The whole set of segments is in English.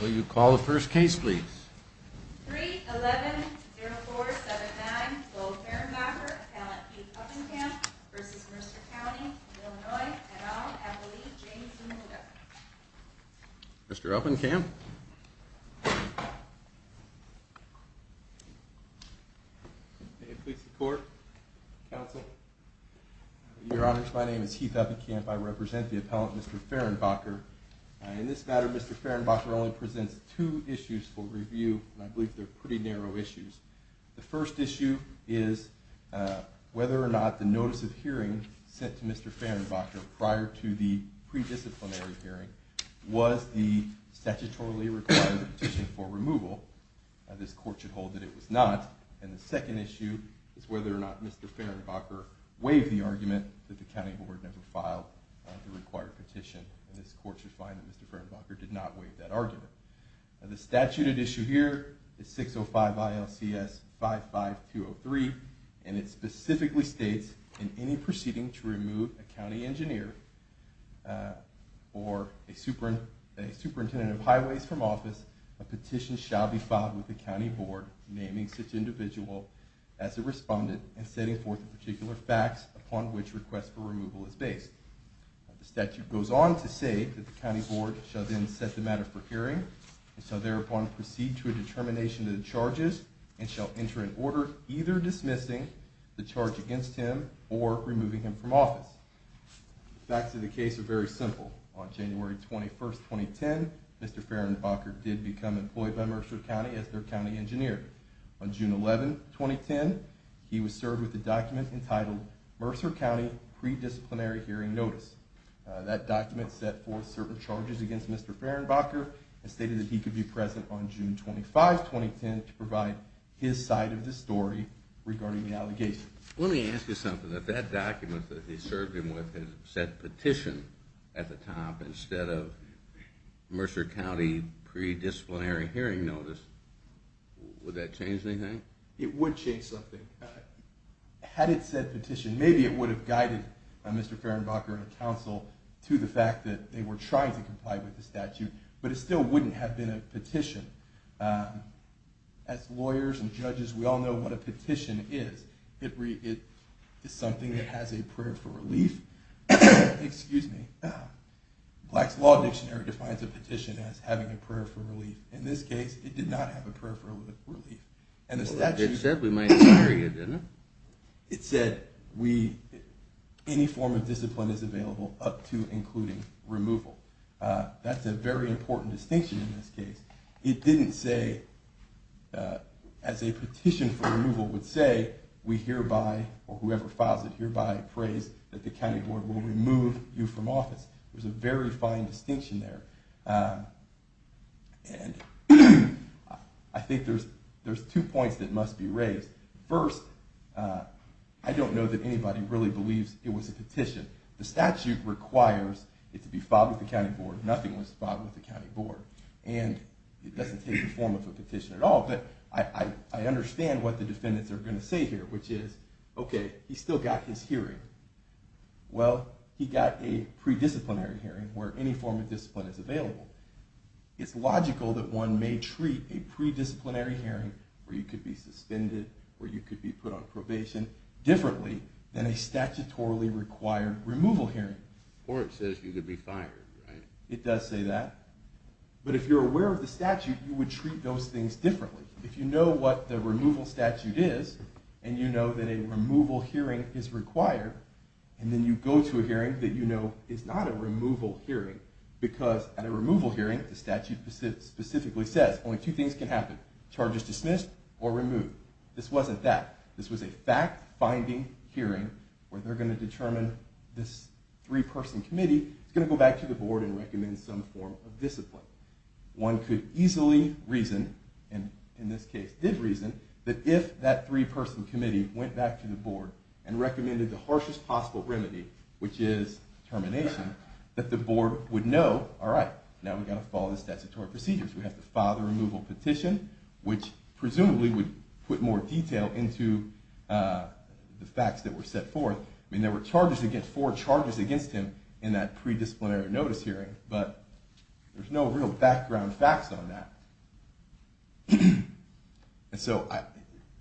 Will you call the first case please? 3-11-0479 Gold-Fahrenbacher Appellant Heath Uppenkamp v. Mercer County Illinois et al. Appellee James Zuniga Mr. Uppenkamp May it please the court, counsel Your Honors, my name is Heath Uppenkamp. I represent the appellant, Mr. Fahrenbacher. In this matter, Mr. Fahrenbacher only presents two issues for review, and I believe they're pretty narrow issues. The first issue is whether or not the notice of hearing sent to Mr. Fahrenbacher prior to the pre-disciplinary hearing was the statutorily required petition for removal. This court should hold that it was not. And the second issue is whether or not Mr. Fahrenbacher waived the argument that the County Board never filed the required petition. This court should find that Mr. Fahrenbacher did not waive that argument. The statute at issue here is 605-ILCS-55203, and it specifically states, In any proceeding to remove a county engineer or a superintendent of highways from office, a petition shall be filed with the County Board naming such individual as the respondent and setting forth the particular facts upon which request for removal is based. The statute goes on to say that the County Board shall then set the matter for hearing, and shall thereupon proceed to a determination of the charges, and shall enter an order either dismissing the charge against him or removing him from office. The facts of the case are very simple. On January 21, 2010, Mr. Fahrenbacher did become employed by Mercer County as their county engineer. On June 11, 2010, he was served with a document entitled, Mercer County Pre-disciplinary Hearing Notice. That document set forth certain charges against Mr. Fahrenbacher and stated that he could be present on June 25, 2010 to provide his side of the story regarding the allegations. Let me ask you something. If that document that he served him with had said petition at the top instead of Mercer County Pre-disciplinary Hearing Notice, would that change anything? It would change something. Had it said petition, maybe it would have guided Mr. Fahrenbacher and the council to the fact that they were trying to comply with the statute. But it still wouldn't have been a petition. As lawyers and judges, we all know what a petition is. It is something that has a prayer for relief. Excuse me. Black's Law Dictionary defines a petition as having a prayer for relief. In this case, it did not have a prayer for relief. It said we might carry it, didn't it? It said any form of discipline is available up to including removal. That's a very important distinction in this case. It didn't say, as a petition for removal would say, we hereby or whoever files it hereby prays that the county board will remove you from office. There's a very fine distinction there. And I think there's two points that must be raised. First, I don't know that anybody really believes it was a petition. The statute requires it to be filed with the county board. Nothing was filed with the county board. And it doesn't take the form of a petition at all. But I understand what the defendants are going to say here, which is, OK, he's still got his hearing. Well, he got a pre-disciplinary hearing where any form of discipline is available. It's logical that one may treat a pre-disciplinary hearing, where you could be suspended, where you could be put on probation, differently than a statutorily required removal hearing. Or it says you could be fired, right? It does say that. But if you're aware of the statute, you would treat those things differently. If you know what the removal statute is, and you know that a removal hearing is required, and then you go to a hearing that you know is not a removal hearing, because at a removal hearing the statute specifically says only two things can happen, charges dismissed or removed. This wasn't that. This was a fact-finding hearing where they're going to determine this three-person committee is going to go back to the board and recommend some form of discipline. One could easily reason, and in this case did reason, that if that three-person committee went back to the board and recommended the harshest possible remedy, which is termination, that the board would know, all right, now we've got to follow the statutory procedures. We have to file the removal petition, which presumably would put more detail into the facts that were set forth. I mean, there were four charges against him in that pre-disciplinary notice hearing, but there's no real background facts on that. And so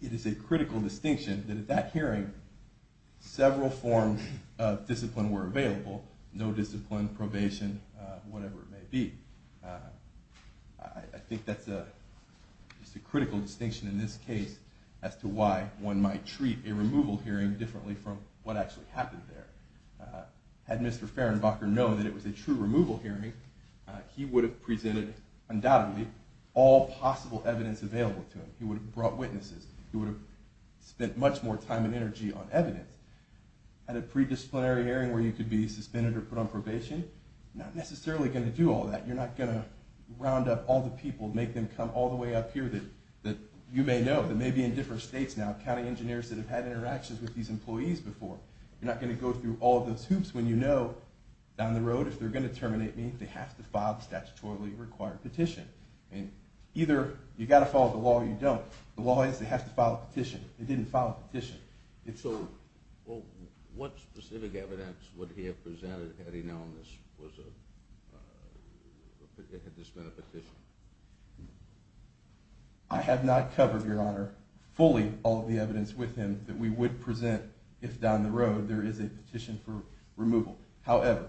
it is a critical distinction that at that hearing several forms of discipline were available, no discipline, probation, whatever it may be. I think that's a critical distinction in this case as to why one might treat a removal hearing differently from what actually happened there. Had Mr. Fehrenbacher known that it was a true removal hearing, he would have presented, undoubtedly, all possible evidence available to him. He would have brought witnesses. He would have spent much more time and energy on evidence. At a pre-disciplinary hearing where you could be suspended or put on probation, you're not necessarily going to do all that. You're not going to round up all the people, make them come all the way up here that you may know, that may be in different states now, county engineers that have had interactions with these employees before. You're not going to go through all those hoops when you know down the road if they're going to terminate me, they have to file the statutorily required petition. And either you've got to follow the law or you don't. The law is they have to file a petition. They didn't file a petition. What specific evidence would he have presented had he known this had this been a petition? I have not covered, Your Honor, fully all of the evidence with him that we would present if down the road there is a petition for removal. However,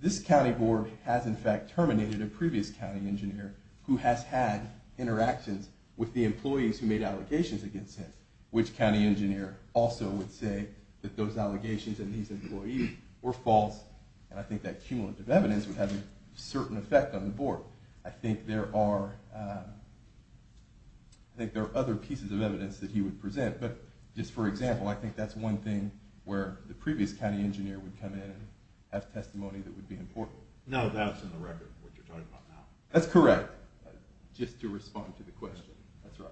this county board has in fact terminated a previous county engineer who has had interactions with the employees who made allegations against him. Which county engineer also would say that those allegations and these employees were false, and I think that cumulative evidence would have a certain effect on the board. I think there are other pieces of evidence that he would present, but just for example, I think that's one thing where the previous county engineer would come in and have testimony that would be important. No, that's in the record, what you're talking about now. That's correct. Just to respond to the question. That's right.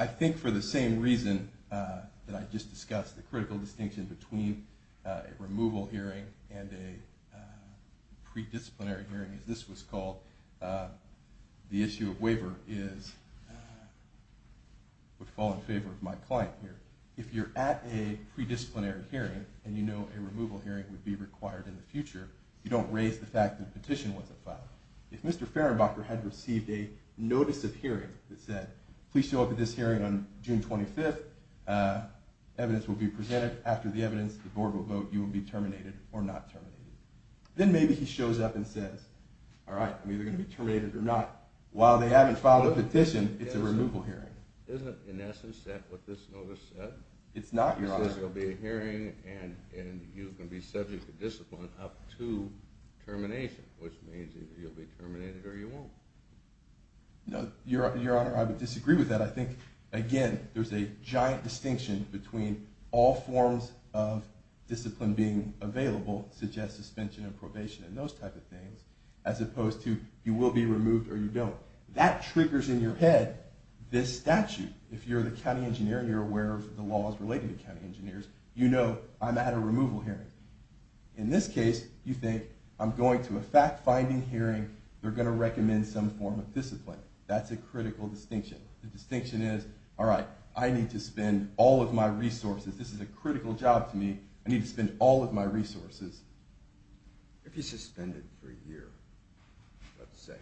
I think for the same reason that I just discussed, the critical distinction between a removal hearing and a pre-disciplinary hearing, as this was called, the issue of waiver would fall in favor of my client here. If you're at a pre-disciplinary hearing and you know a removal hearing would be required in the future, you don't raise the fact that a petition wasn't filed. If Mr. Fehrenbacher had received a notice of hearing that said, please show up at this hearing on June 25th, evidence will be presented. After the evidence, the board will vote you will be terminated or not terminated. Then maybe he shows up and says, all right, I'm either going to be terminated or not. While they haven't filed a petition, it's a removal hearing. Isn't, in essence, that what this notice said? It's not, Your Honor. It says there will be a hearing and you can be subject to discipline up to termination, which means either you'll be terminated or you won't. No, Your Honor, I would disagree with that. I think, again, there's a giant distinction between all forms of discipline being available, such as suspension and probation and those type of things, as opposed to you will be removed or you don't. That triggers in your head this statute. If you're the county engineer and you're aware of the laws related to county engineers, you know I'm at a removal hearing. In this case, you think I'm going to a fact-finding hearing. They're going to recommend some form of discipline. That's a critical distinction. The distinction is, all right, I need to spend all of my resources. This is a critical job to me. I need to spend all of my resources. If you suspended for a year, let's say,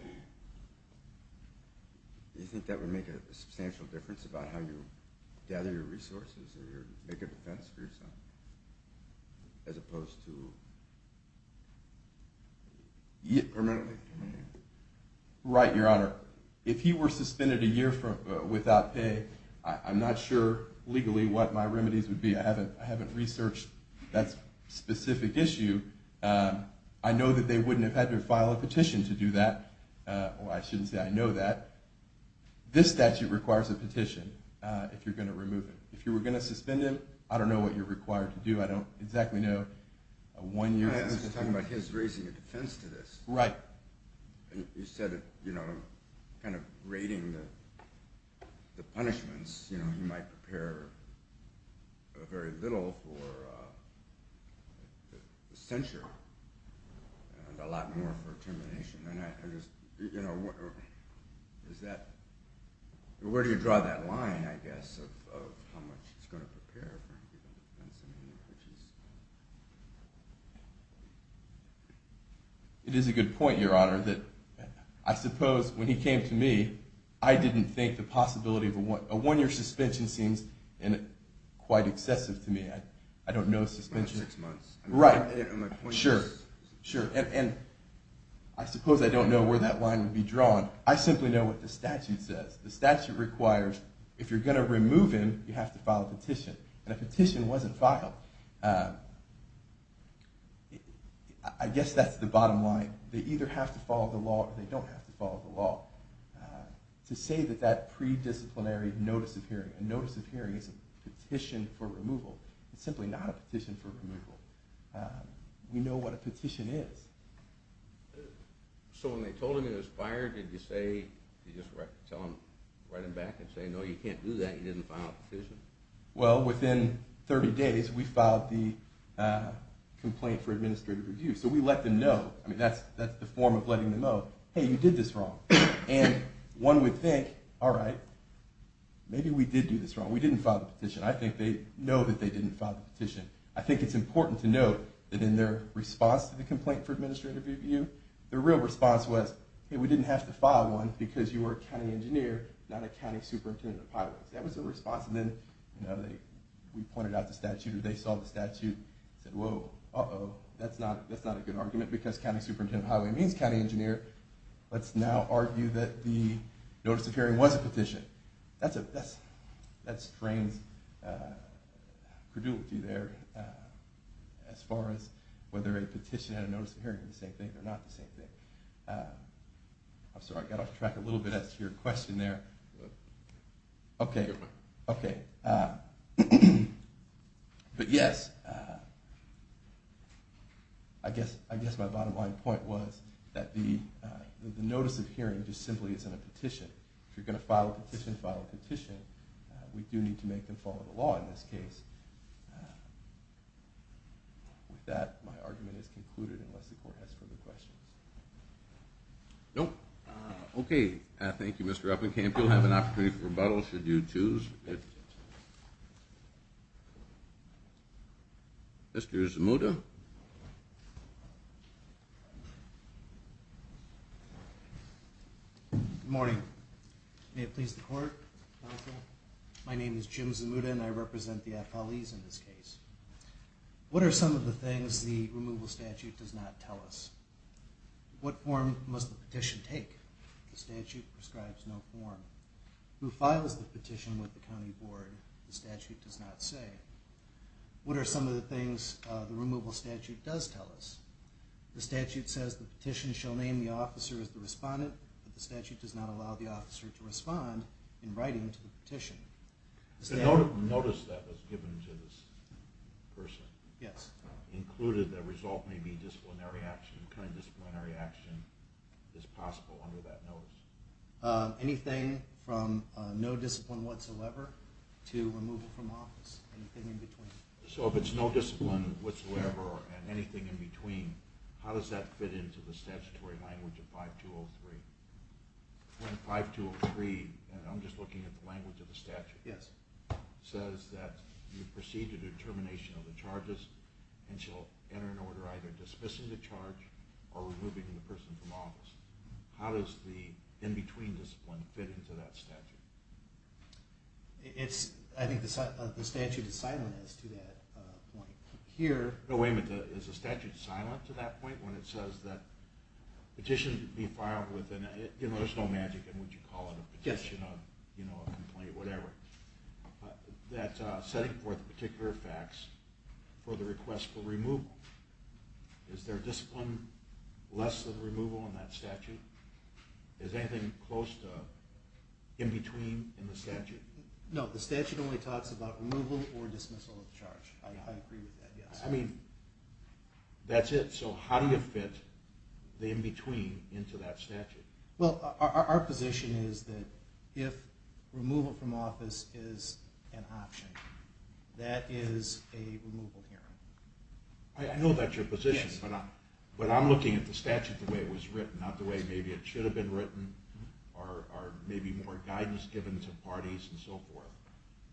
do you think that would make a substantial difference about how you gather your resources or make a defense for yourself? As opposed to permanently. Right, Your Honor. If he were suspended a year without pay, I'm not sure legally what my remedies would be. I haven't researched that specific issue. I know that they wouldn't have had to file a petition to do that. I shouldn't say I know that. This statute requires a petition if you're going to remove him. If you were going to suspend him, I don't know what you're required to do. I don't exactly know a one-year suspension. I was talking about his raising a defense to this. Right. You said, you know, kind of rating the punishments, you know, he might prepare very little for censure and a lot more for termination. You know, where do you draw that line, I guess, of how much he's going to prepare? It is a good point, Your Honor. I suppose when he came to me, I didn't think the possibility of a one-year suspension seems quite excessive to me. About six months. Right. Sure. And I suppose I don't know where that line would be drawn. I simply know what the statute says. The statute requires if you're going to remove him, you have to file a petition. And a petition wasn't filed. I guess that's the bottom line. They either have to follow the law or they don't have to follow the law. To say that that pre-disciplinary notice of hearing, a notice of hearing is a petition for removal. It's simply not a petition for removal. We know what a petition is. So when they told him he was fired, did you say, did you just tell him, write him back and say, no, you can't do that, you didn't file a petition? Well, within 30 days, we filed the complaint for administrative review. So we let them know. I mean, that's the form of letting them know, hey, you did this wrong. And one would think, all right, maybe we did do this wrong. We didn't file the petition. I think they know that they didn't file the petition. I think it's important to note that in their response to the complaint for administrative review, the real response was, hey, we didn't have to file one because you were a county engineer, not a county superintendent of highways. That was their response. And then we pointed out the statute or they saw the statute and said, whoa, uh-oh, that's not a good argument, because county superintendent of highway means county engineer. Let's now argue that the notice of hearing was a petition. That strains credulity there as far as whether a petition and a notice of hearing are the same thing or not the same thing. I'm sorry, I got off track a little bit as to your question there. OK. OK. But yes, I guess my bottom line point was that the notice of hearing just simply isn't a petition. If you're going to file a petition, file a petition. We do need to make them follow the law in this case. With that, my argument is concluded unless the court has further questions. Nope. OK. Thank you, Mr. Uppencamp. You'll have an opportunity for rebuttal should you choose. Mr. Zamuda. Good morning. May it please the court, counsel. My name is Jim Zamuda, and I represent the affilies in this case. What are some of the things the removal statute does not tell us? What form must the petition take? The statute prescribes no form. Who files the petition with the county board? The statute does not say. What are some of the things the removal statute does tell us? The statute says the petition shall name the officer as the respondent, but the statute does not allow the officer to respond in writing to the petition. The notice that was given to this person included the result may be disciplinary action. What kind of disciplinary action is possible under that notice? Anything from no discipline whatsoever to removal from office, anything in between. So if it's no discipline whatsoever and anything in between, how does that fit into the statutory language of 5203? When 5203, and I'm just looking at the language of the statute, says that you proceed to the termination of the charges and shall enter an order either dismissing the charge or removing the person from office, how does the in-between discipline fit into that statute? I think the statute is silent as to that point. Here, no wait a minute, is the statute silent to that point when it says that petitions be filed with an, you know, there's no magic in what you call it, a petition, a complaint, whatever, that setting forth particular facts for the request for removal. Is there discipline less than removal in that statute? Is there anything close to in-between in the statute? No, the statute only talks about removal or dismissal of the charge. I agree with that, yes. I mean, that's it, so how do you fit the in-between into that statute? Well, our position is that if removal from office is an option, that is a removal hearing. I know that's your position, but I'm looking at the statute the way it was written, not the way maybe it should have been written or maybe more guidance given to parties and so forth.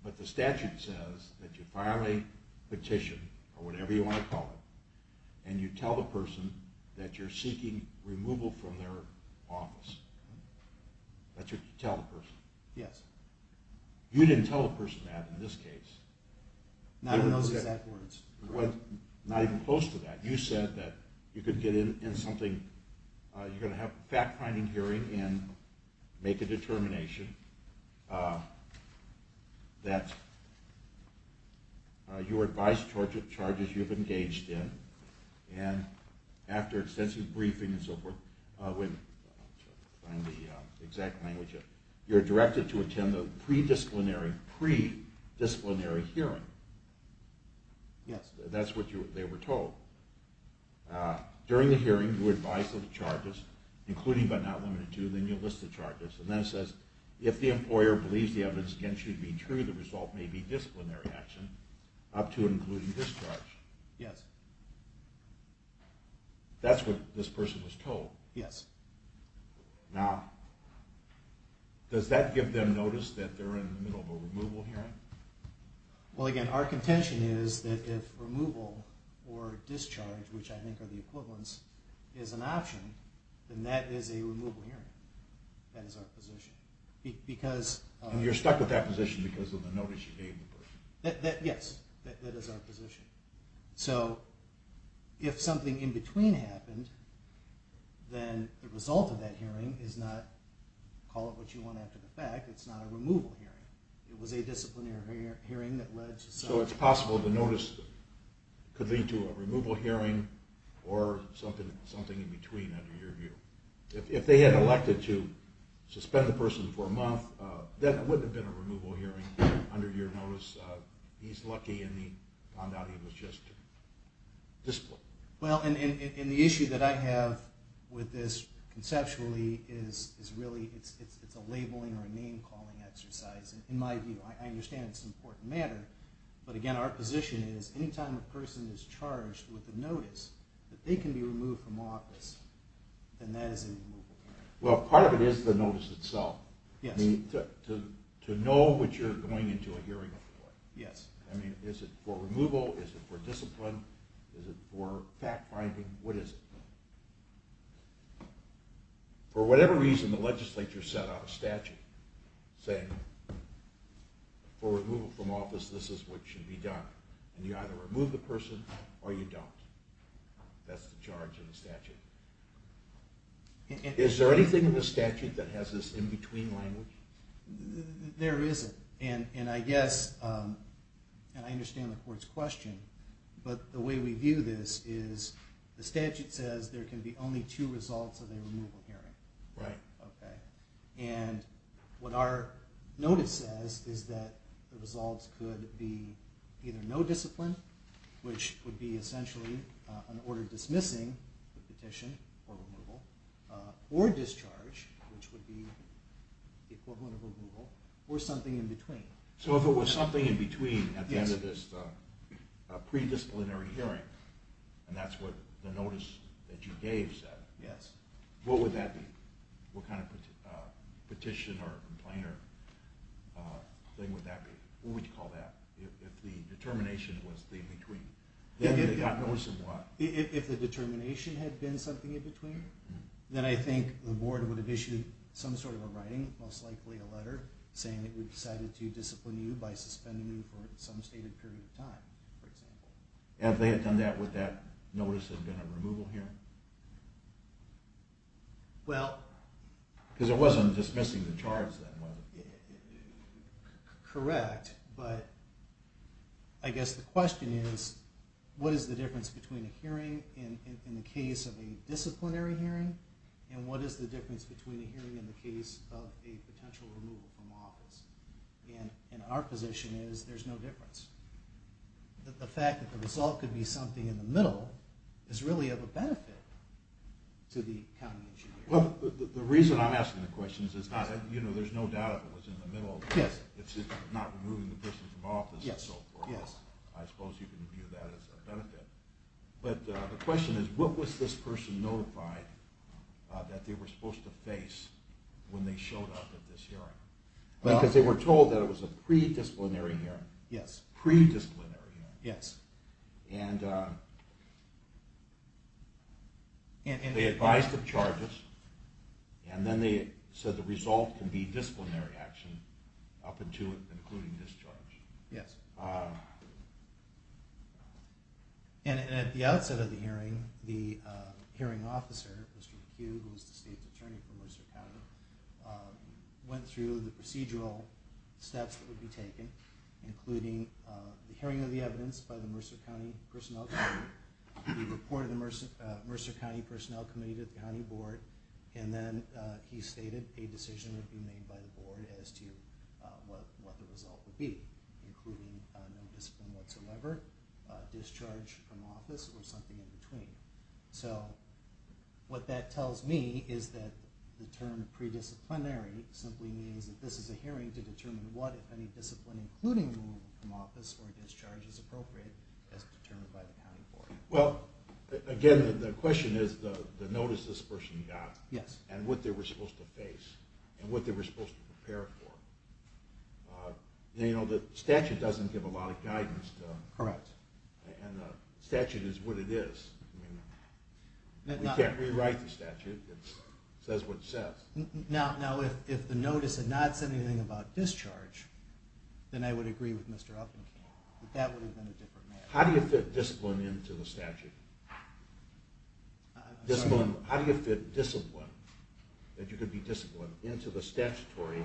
But the statute says that you file a petition or whatever you want to call it and you tell the person that you're seeking removal from their office. That's what you tell the person? Yes. You didn't tell the person that in this case. Not in those exact words. Not even close to that. You said that you could get in something, you're going to have a fact-finding hearing and make a determination that your advised charges you've engaged in, and after extensive briefing and so forth, I'm trying to find the exact language here, you're directed to attend the pre-disciplinary hearing. Yes. That's what they were told. During the hearing, you advise of the charges, including but not limited to, then you list the charges, and then it says, if the employer believes the evidence against you to be true, the result may be disciplinary action up to and including discharge. Yes. That's what this person was told? Yes. Now, does that give them notice that they're in the middle of a removal hearing? Well, again, our contention is that if removal or discharge, which I think are the equivalents, is an option, then that is a removal hearing. That is our position. And you're stuck with that position because of the notice you gave the person? Yes. That is our position. So if something in between happened, then the result of that hearing is not, call it what you want after the fact, it's not a removal hearing. It was a disciplinary hearing that led to something. So it's possible the notice could lead to a removal hearing or something in between under your view. If they had elected to suspend the person for a month, that would have been a removal hearing under your notice. He's lucky and he found out he was just disciplined. Well, and the issue that I have with this conceptually is really it's a labeling or a name-calling exercise in my view. I understand it's an important matter. But, again, our position is any time a person is charged with a notice that they can be removed from office, then that is a removal hearing. Well, part of it is the notice itself. Yes. To know what you're going into a hearing for. Yes. I mean, is it for removal? Is it for discipline? Is it for fact-finding? What is it? For whatever reason, the legislature set out a statute saying, for removal from office, this is what should be done. And you either remove the person or you don't. That's the charge in the statute. Is there anything in the statute that has this in-between language? There isn't. And I guess, and I understand the court's question, but the way we view this is the statute says there can be only two results of a removal hearing. Right. Okay. And what our notice says is that the results could be either no discipline, which would be essentially an order dismissing the petition for removal, or discharge, which would be equivalent of removal, or something in-between. So if it was something in-between at the end of this predisciplinary hearing, and that's what the notice that you gave said, what would that be? What kind of petition or complainer thing would that be? Who would you call that? If the determination was in-between. If the determination had been something in-between, then I think the board would have issued some sort of a writing, most likely a letter, saying that we decided to discipline you by suspending you for some stated period of time, for example. If they had done that with that notice of removal hearing? Well. Because it wasn't dismissing the charge then, was it? Correct. But I guess the question is, what is the difference between a hearing in the case of a disciplinary hearing, and what is the difference between a hearing in the case of a potential removal from office? And our position is there's no difference. The fact that the result could be something in the middle is really of a benefit to the county engineer. Well, the reason I'm asking the question is, there's no doubt if it was in the middle, it's not removing the person from office and so forth. I suppose you can view that as a benefit. But the question is, what was this person notified that they were supposed to face when they showed up at this hearing? Because they were told that it was a predisciplinary hearing. Yes. Predisciplinary hearing. Yes. And they advised of charges, and then they said the result can be disciplinary action up until it, including discharge. Yes. And at the outset of the hearing, the hearing officer, Mr. McHugh, who was the state's attorney for Mercer County, went through the procedural steps that would be taken, including the hearing of the evidence by the Mercer County Personnel Committee, the report of the Mercer County Personnel Committee to the county board, and then he stated a decision would be made by the board as to what the result would be, including no discipline whatsoever, discharge from office, or something in between. So what that tells me is that the term predisciplinary simply means that this is a hearing to determine what, if any discipline, including removal from office or discharge, is appropriate as determined by the county board. Well, again, the question is the notice this person got. Yes. And what they were supposed to face, and what they were supposed to prepare for. You know, the statute doesn't give a lot of guidance. Correct. And the statute is what it is. I mean, we can't rewrite the statute. It says what it says. Now, if the notice had not said anything about discharge, then I would agree with Mr. Upenkamp that that would have been a different matter. How do you fit discipline into the statute? I'm sorry? How do you fit discipline, that you could be disciplined, into the statutory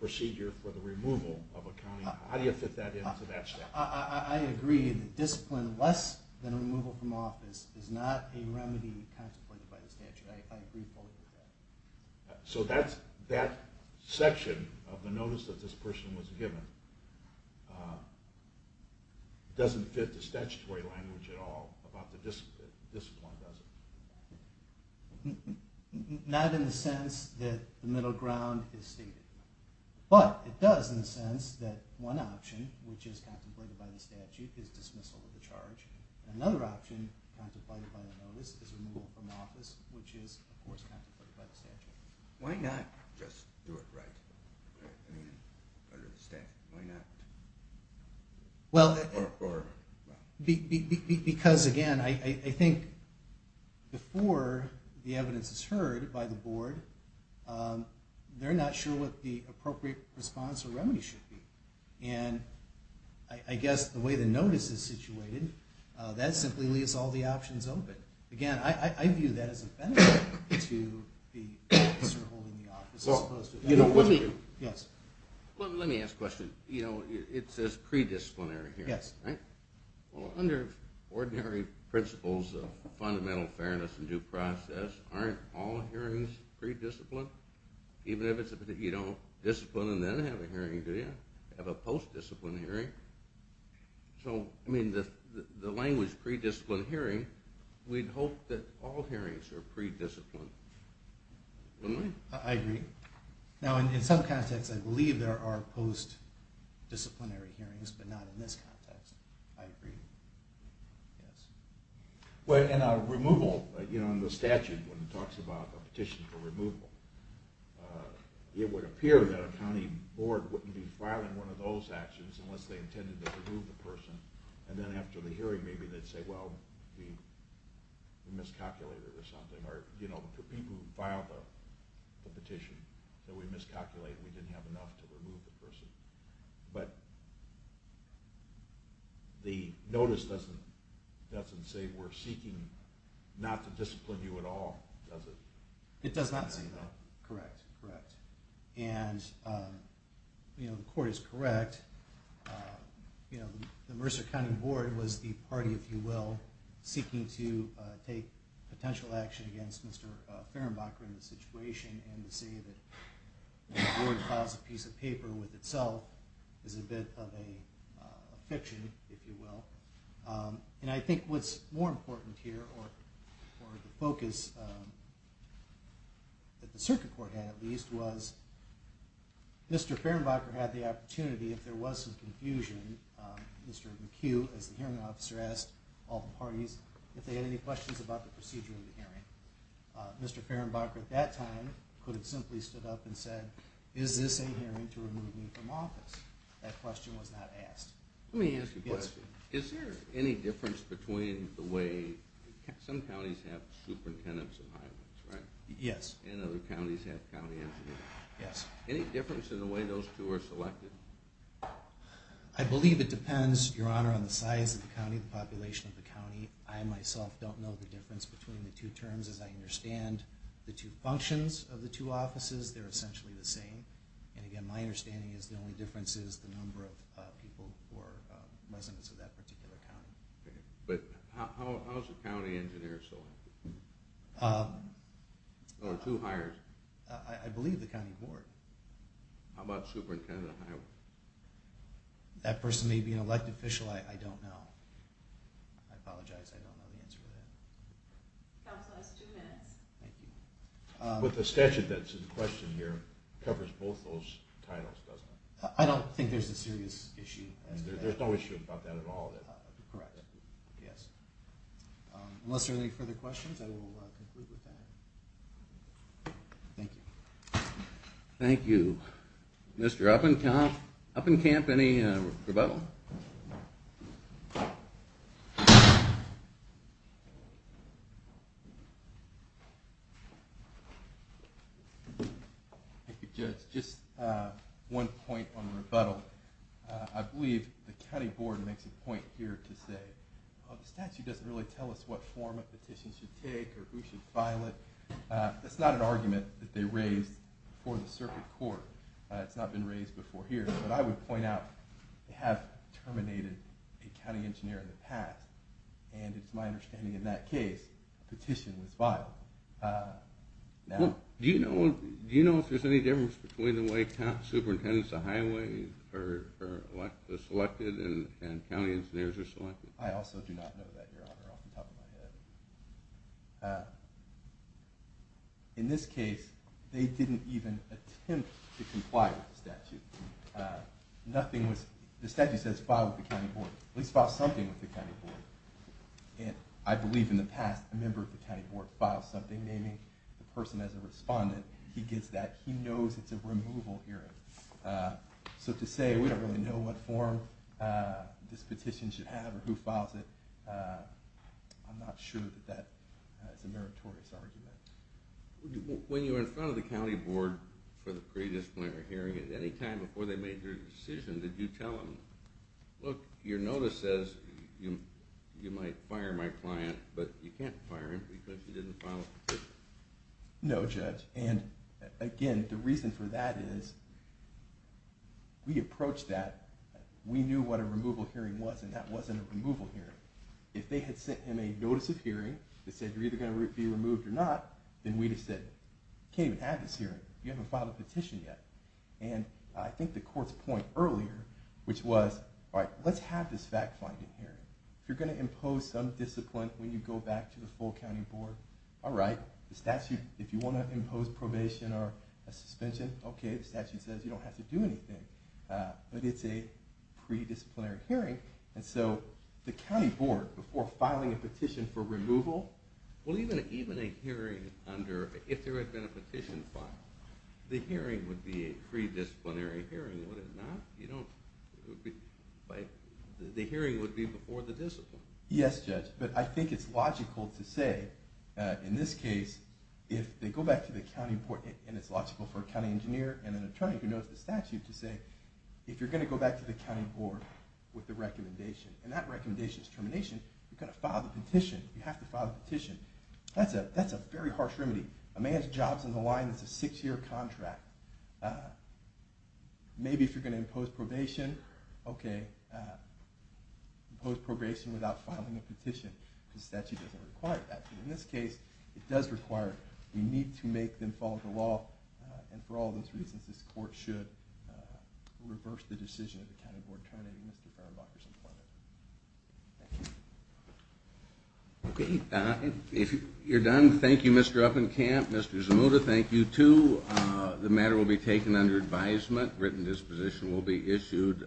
procedure for the removal of a county? How do you fit that into that statute? I agree that discipline less than removal from office is not a remedy contemplated by the statute. I agree fully with that. So that section of the notice that this person was given doesn't fit the statutory language at all about the discipline, does it? Not in the sense that the middle ground is stated. But it does in the sense that one option, which is contemplated by the statute, is dismissal of the charge. Another option contemplated by the notice is removal from office, which is, of course, contemplated by the statute. Why not just do it right under the statute? Why not? Because, again, I think before the evidence is heard by the board, they're not sure what the appropriate response or remedy should be. And I guess the way the notice is situated, that simply leaves all the options open. Again, I view that as a benefit to the officer holding the office as opposed to having to do it. Well, let me ask a question. It says pre-disciplinary hearing, right? Well, under ordinary principles of fundamental fairness and due process, aren't all hearings pre-disciplined? Even if you don't discipline and then have a hearing, do you have a post-discipline hearing? So, I mean, the language pre-discipline hearing, we'd hope that all hearings are pre-disciplined, wouldn't we? I agree. Now, in some contexts, I believe there are post-disciplinary hearings, but not in this context. I agree. Yes. Well, and removal, you know, in the statute, when it talks about a petition for removal, it would appear that a county board wouldn't be filing one of those actions unless they intended to remove the person. And then after the hearing, maybe they'd say, well, we miscalculated or something. Or, you know, the people who filed the petition that we miscalculated, we didn't have enough to remove the person. But the notice doesn't say we're seeking not to discipline you at all, does it? It does not say that. Correct, correct. And, you know, the court is correct. You know, the Mercer County Board was the party, if you will, seeking to take potential action against Mr. Fehrenbacher and the situation, and to say that the board files a piece of paper with itself is a bit of a fiction, if you will. And I think what's more important here, or the focus that the circuit court had at least, was Mr. Fehrenbacher had the opportunity, if there was some confusion, Mr. McHugh, as the hearing officer, asked all the parties if they had any questions about the procedure of the hearing. Mr. Fehrenbacher at that time could have simply stood up and said, is this a hearing to remove me from office? That question was not asked. Let me ask you a question. Is there any difference between the way some counties have superintendents and high ones, right? Yes. And other counties have county engineers. Yes. Any difference in the way those two are selected? I believe it depends, Your Honor, on the size of the county, the population of the county. I myself don't know the difference between the two terms, as I understand the two functions of the two offices. They're essentially the same. And, again, my understanding is the only difference is the number of people who are residents of that particular county. Okay. But how is a county engineer selected? There are two hires. I believe the county board. How about superintendent of high? That person may be an elected official. I don't know. I apologize. I don't know the answer to that. Counsel has two minutes. Thank you. But the statute that's in question here covers both those titles, doesn't it? I don't think there's a serious issue. There's no issue about that at all. Correct. Yes. Unless there are any further questions, I will conclude with that. Thank you. Thank you. Mr. Uppenkamp, any rebuttal? Thank you, Judge. Just one point on rebuttal. I believe the county board makes a point here to say, well, the statute doesn't really tell us what form a petition should take or who should file it. That's not an argument that they raised before the circuit court. It's not been raised before here. But I would point out they have terminated a county engineer in the past, and it's my understanding in that case a petition was filed. Do you know if there's any difference between the way superintendents of highway are selected and county engineers are selected? I also do not know that, Your Honor, off the top of my head. In this case, they didn't even attempt to comply with the statute. The statute says file with the county board. At least file something with the county board. And I believe in the past a member of the county board filed something, naming the person as a respondent. He gets that. He knows it's a removal hearing. So to say we don't really know what form this petition should have or who files it, I'm not sure that that is a meritorious argument. When you were in front of the county board for the pre-disciplinary hearing, at any time before they made their decision, did you tell them, look, your notice says you might fire my client, but you can't fire him because he didn't file a petition? No, Judge. And, again, the reason for that is we approached that. We knew what a removal hearing was, and that wasn't a removal hearing. If they had sent him a notice of hearing that said you're either going to be removed or not, then we'd have said you can't even have this hearing. You haven't filed a petition yet. And I think the court's point earlier, which was, all right, let's have this fact-finding hearing. If you're going to impose some discipline when you go back to the full county board, all right. The statute, if you want to impose probation or a suspension, okay. The statute says you don't have to do anything. But it's a pre-disciplinary hearing, and so the county board, before filing a petition for removal. Well, even a hearing under, if there had been a petition filed, the hearing would be a pre-disciplinary hearing, would it not? The hearing would be before the discipline. Yes, Judge. But I think it's logical to say, in this case, if they go back to the county board, and it's logical for a county engineer and an attorney who knows the statute to say, if you're going to go back to the county board with the recommendation, and that recommendation is termination, you've got to file the petition. You have to file the petition. That's a very harsh remedy. A man's job's on the line. It's a six-year contract. Maybe if you're going to impose probation, okay, impose probation without filing a petition. The statute doesn't require that. But in this case, it does require it. We need to make them follow the law. And for all those reasons, this court should reverse the decision of the county board terminating Mr. Ferenbacher's employment. Thank you. Okay. If you're done, thank you, Mr. Uppenkamp. Mr. Zamuda, thank you, too. The matter will be taken under advisement. A written disposition will be issued.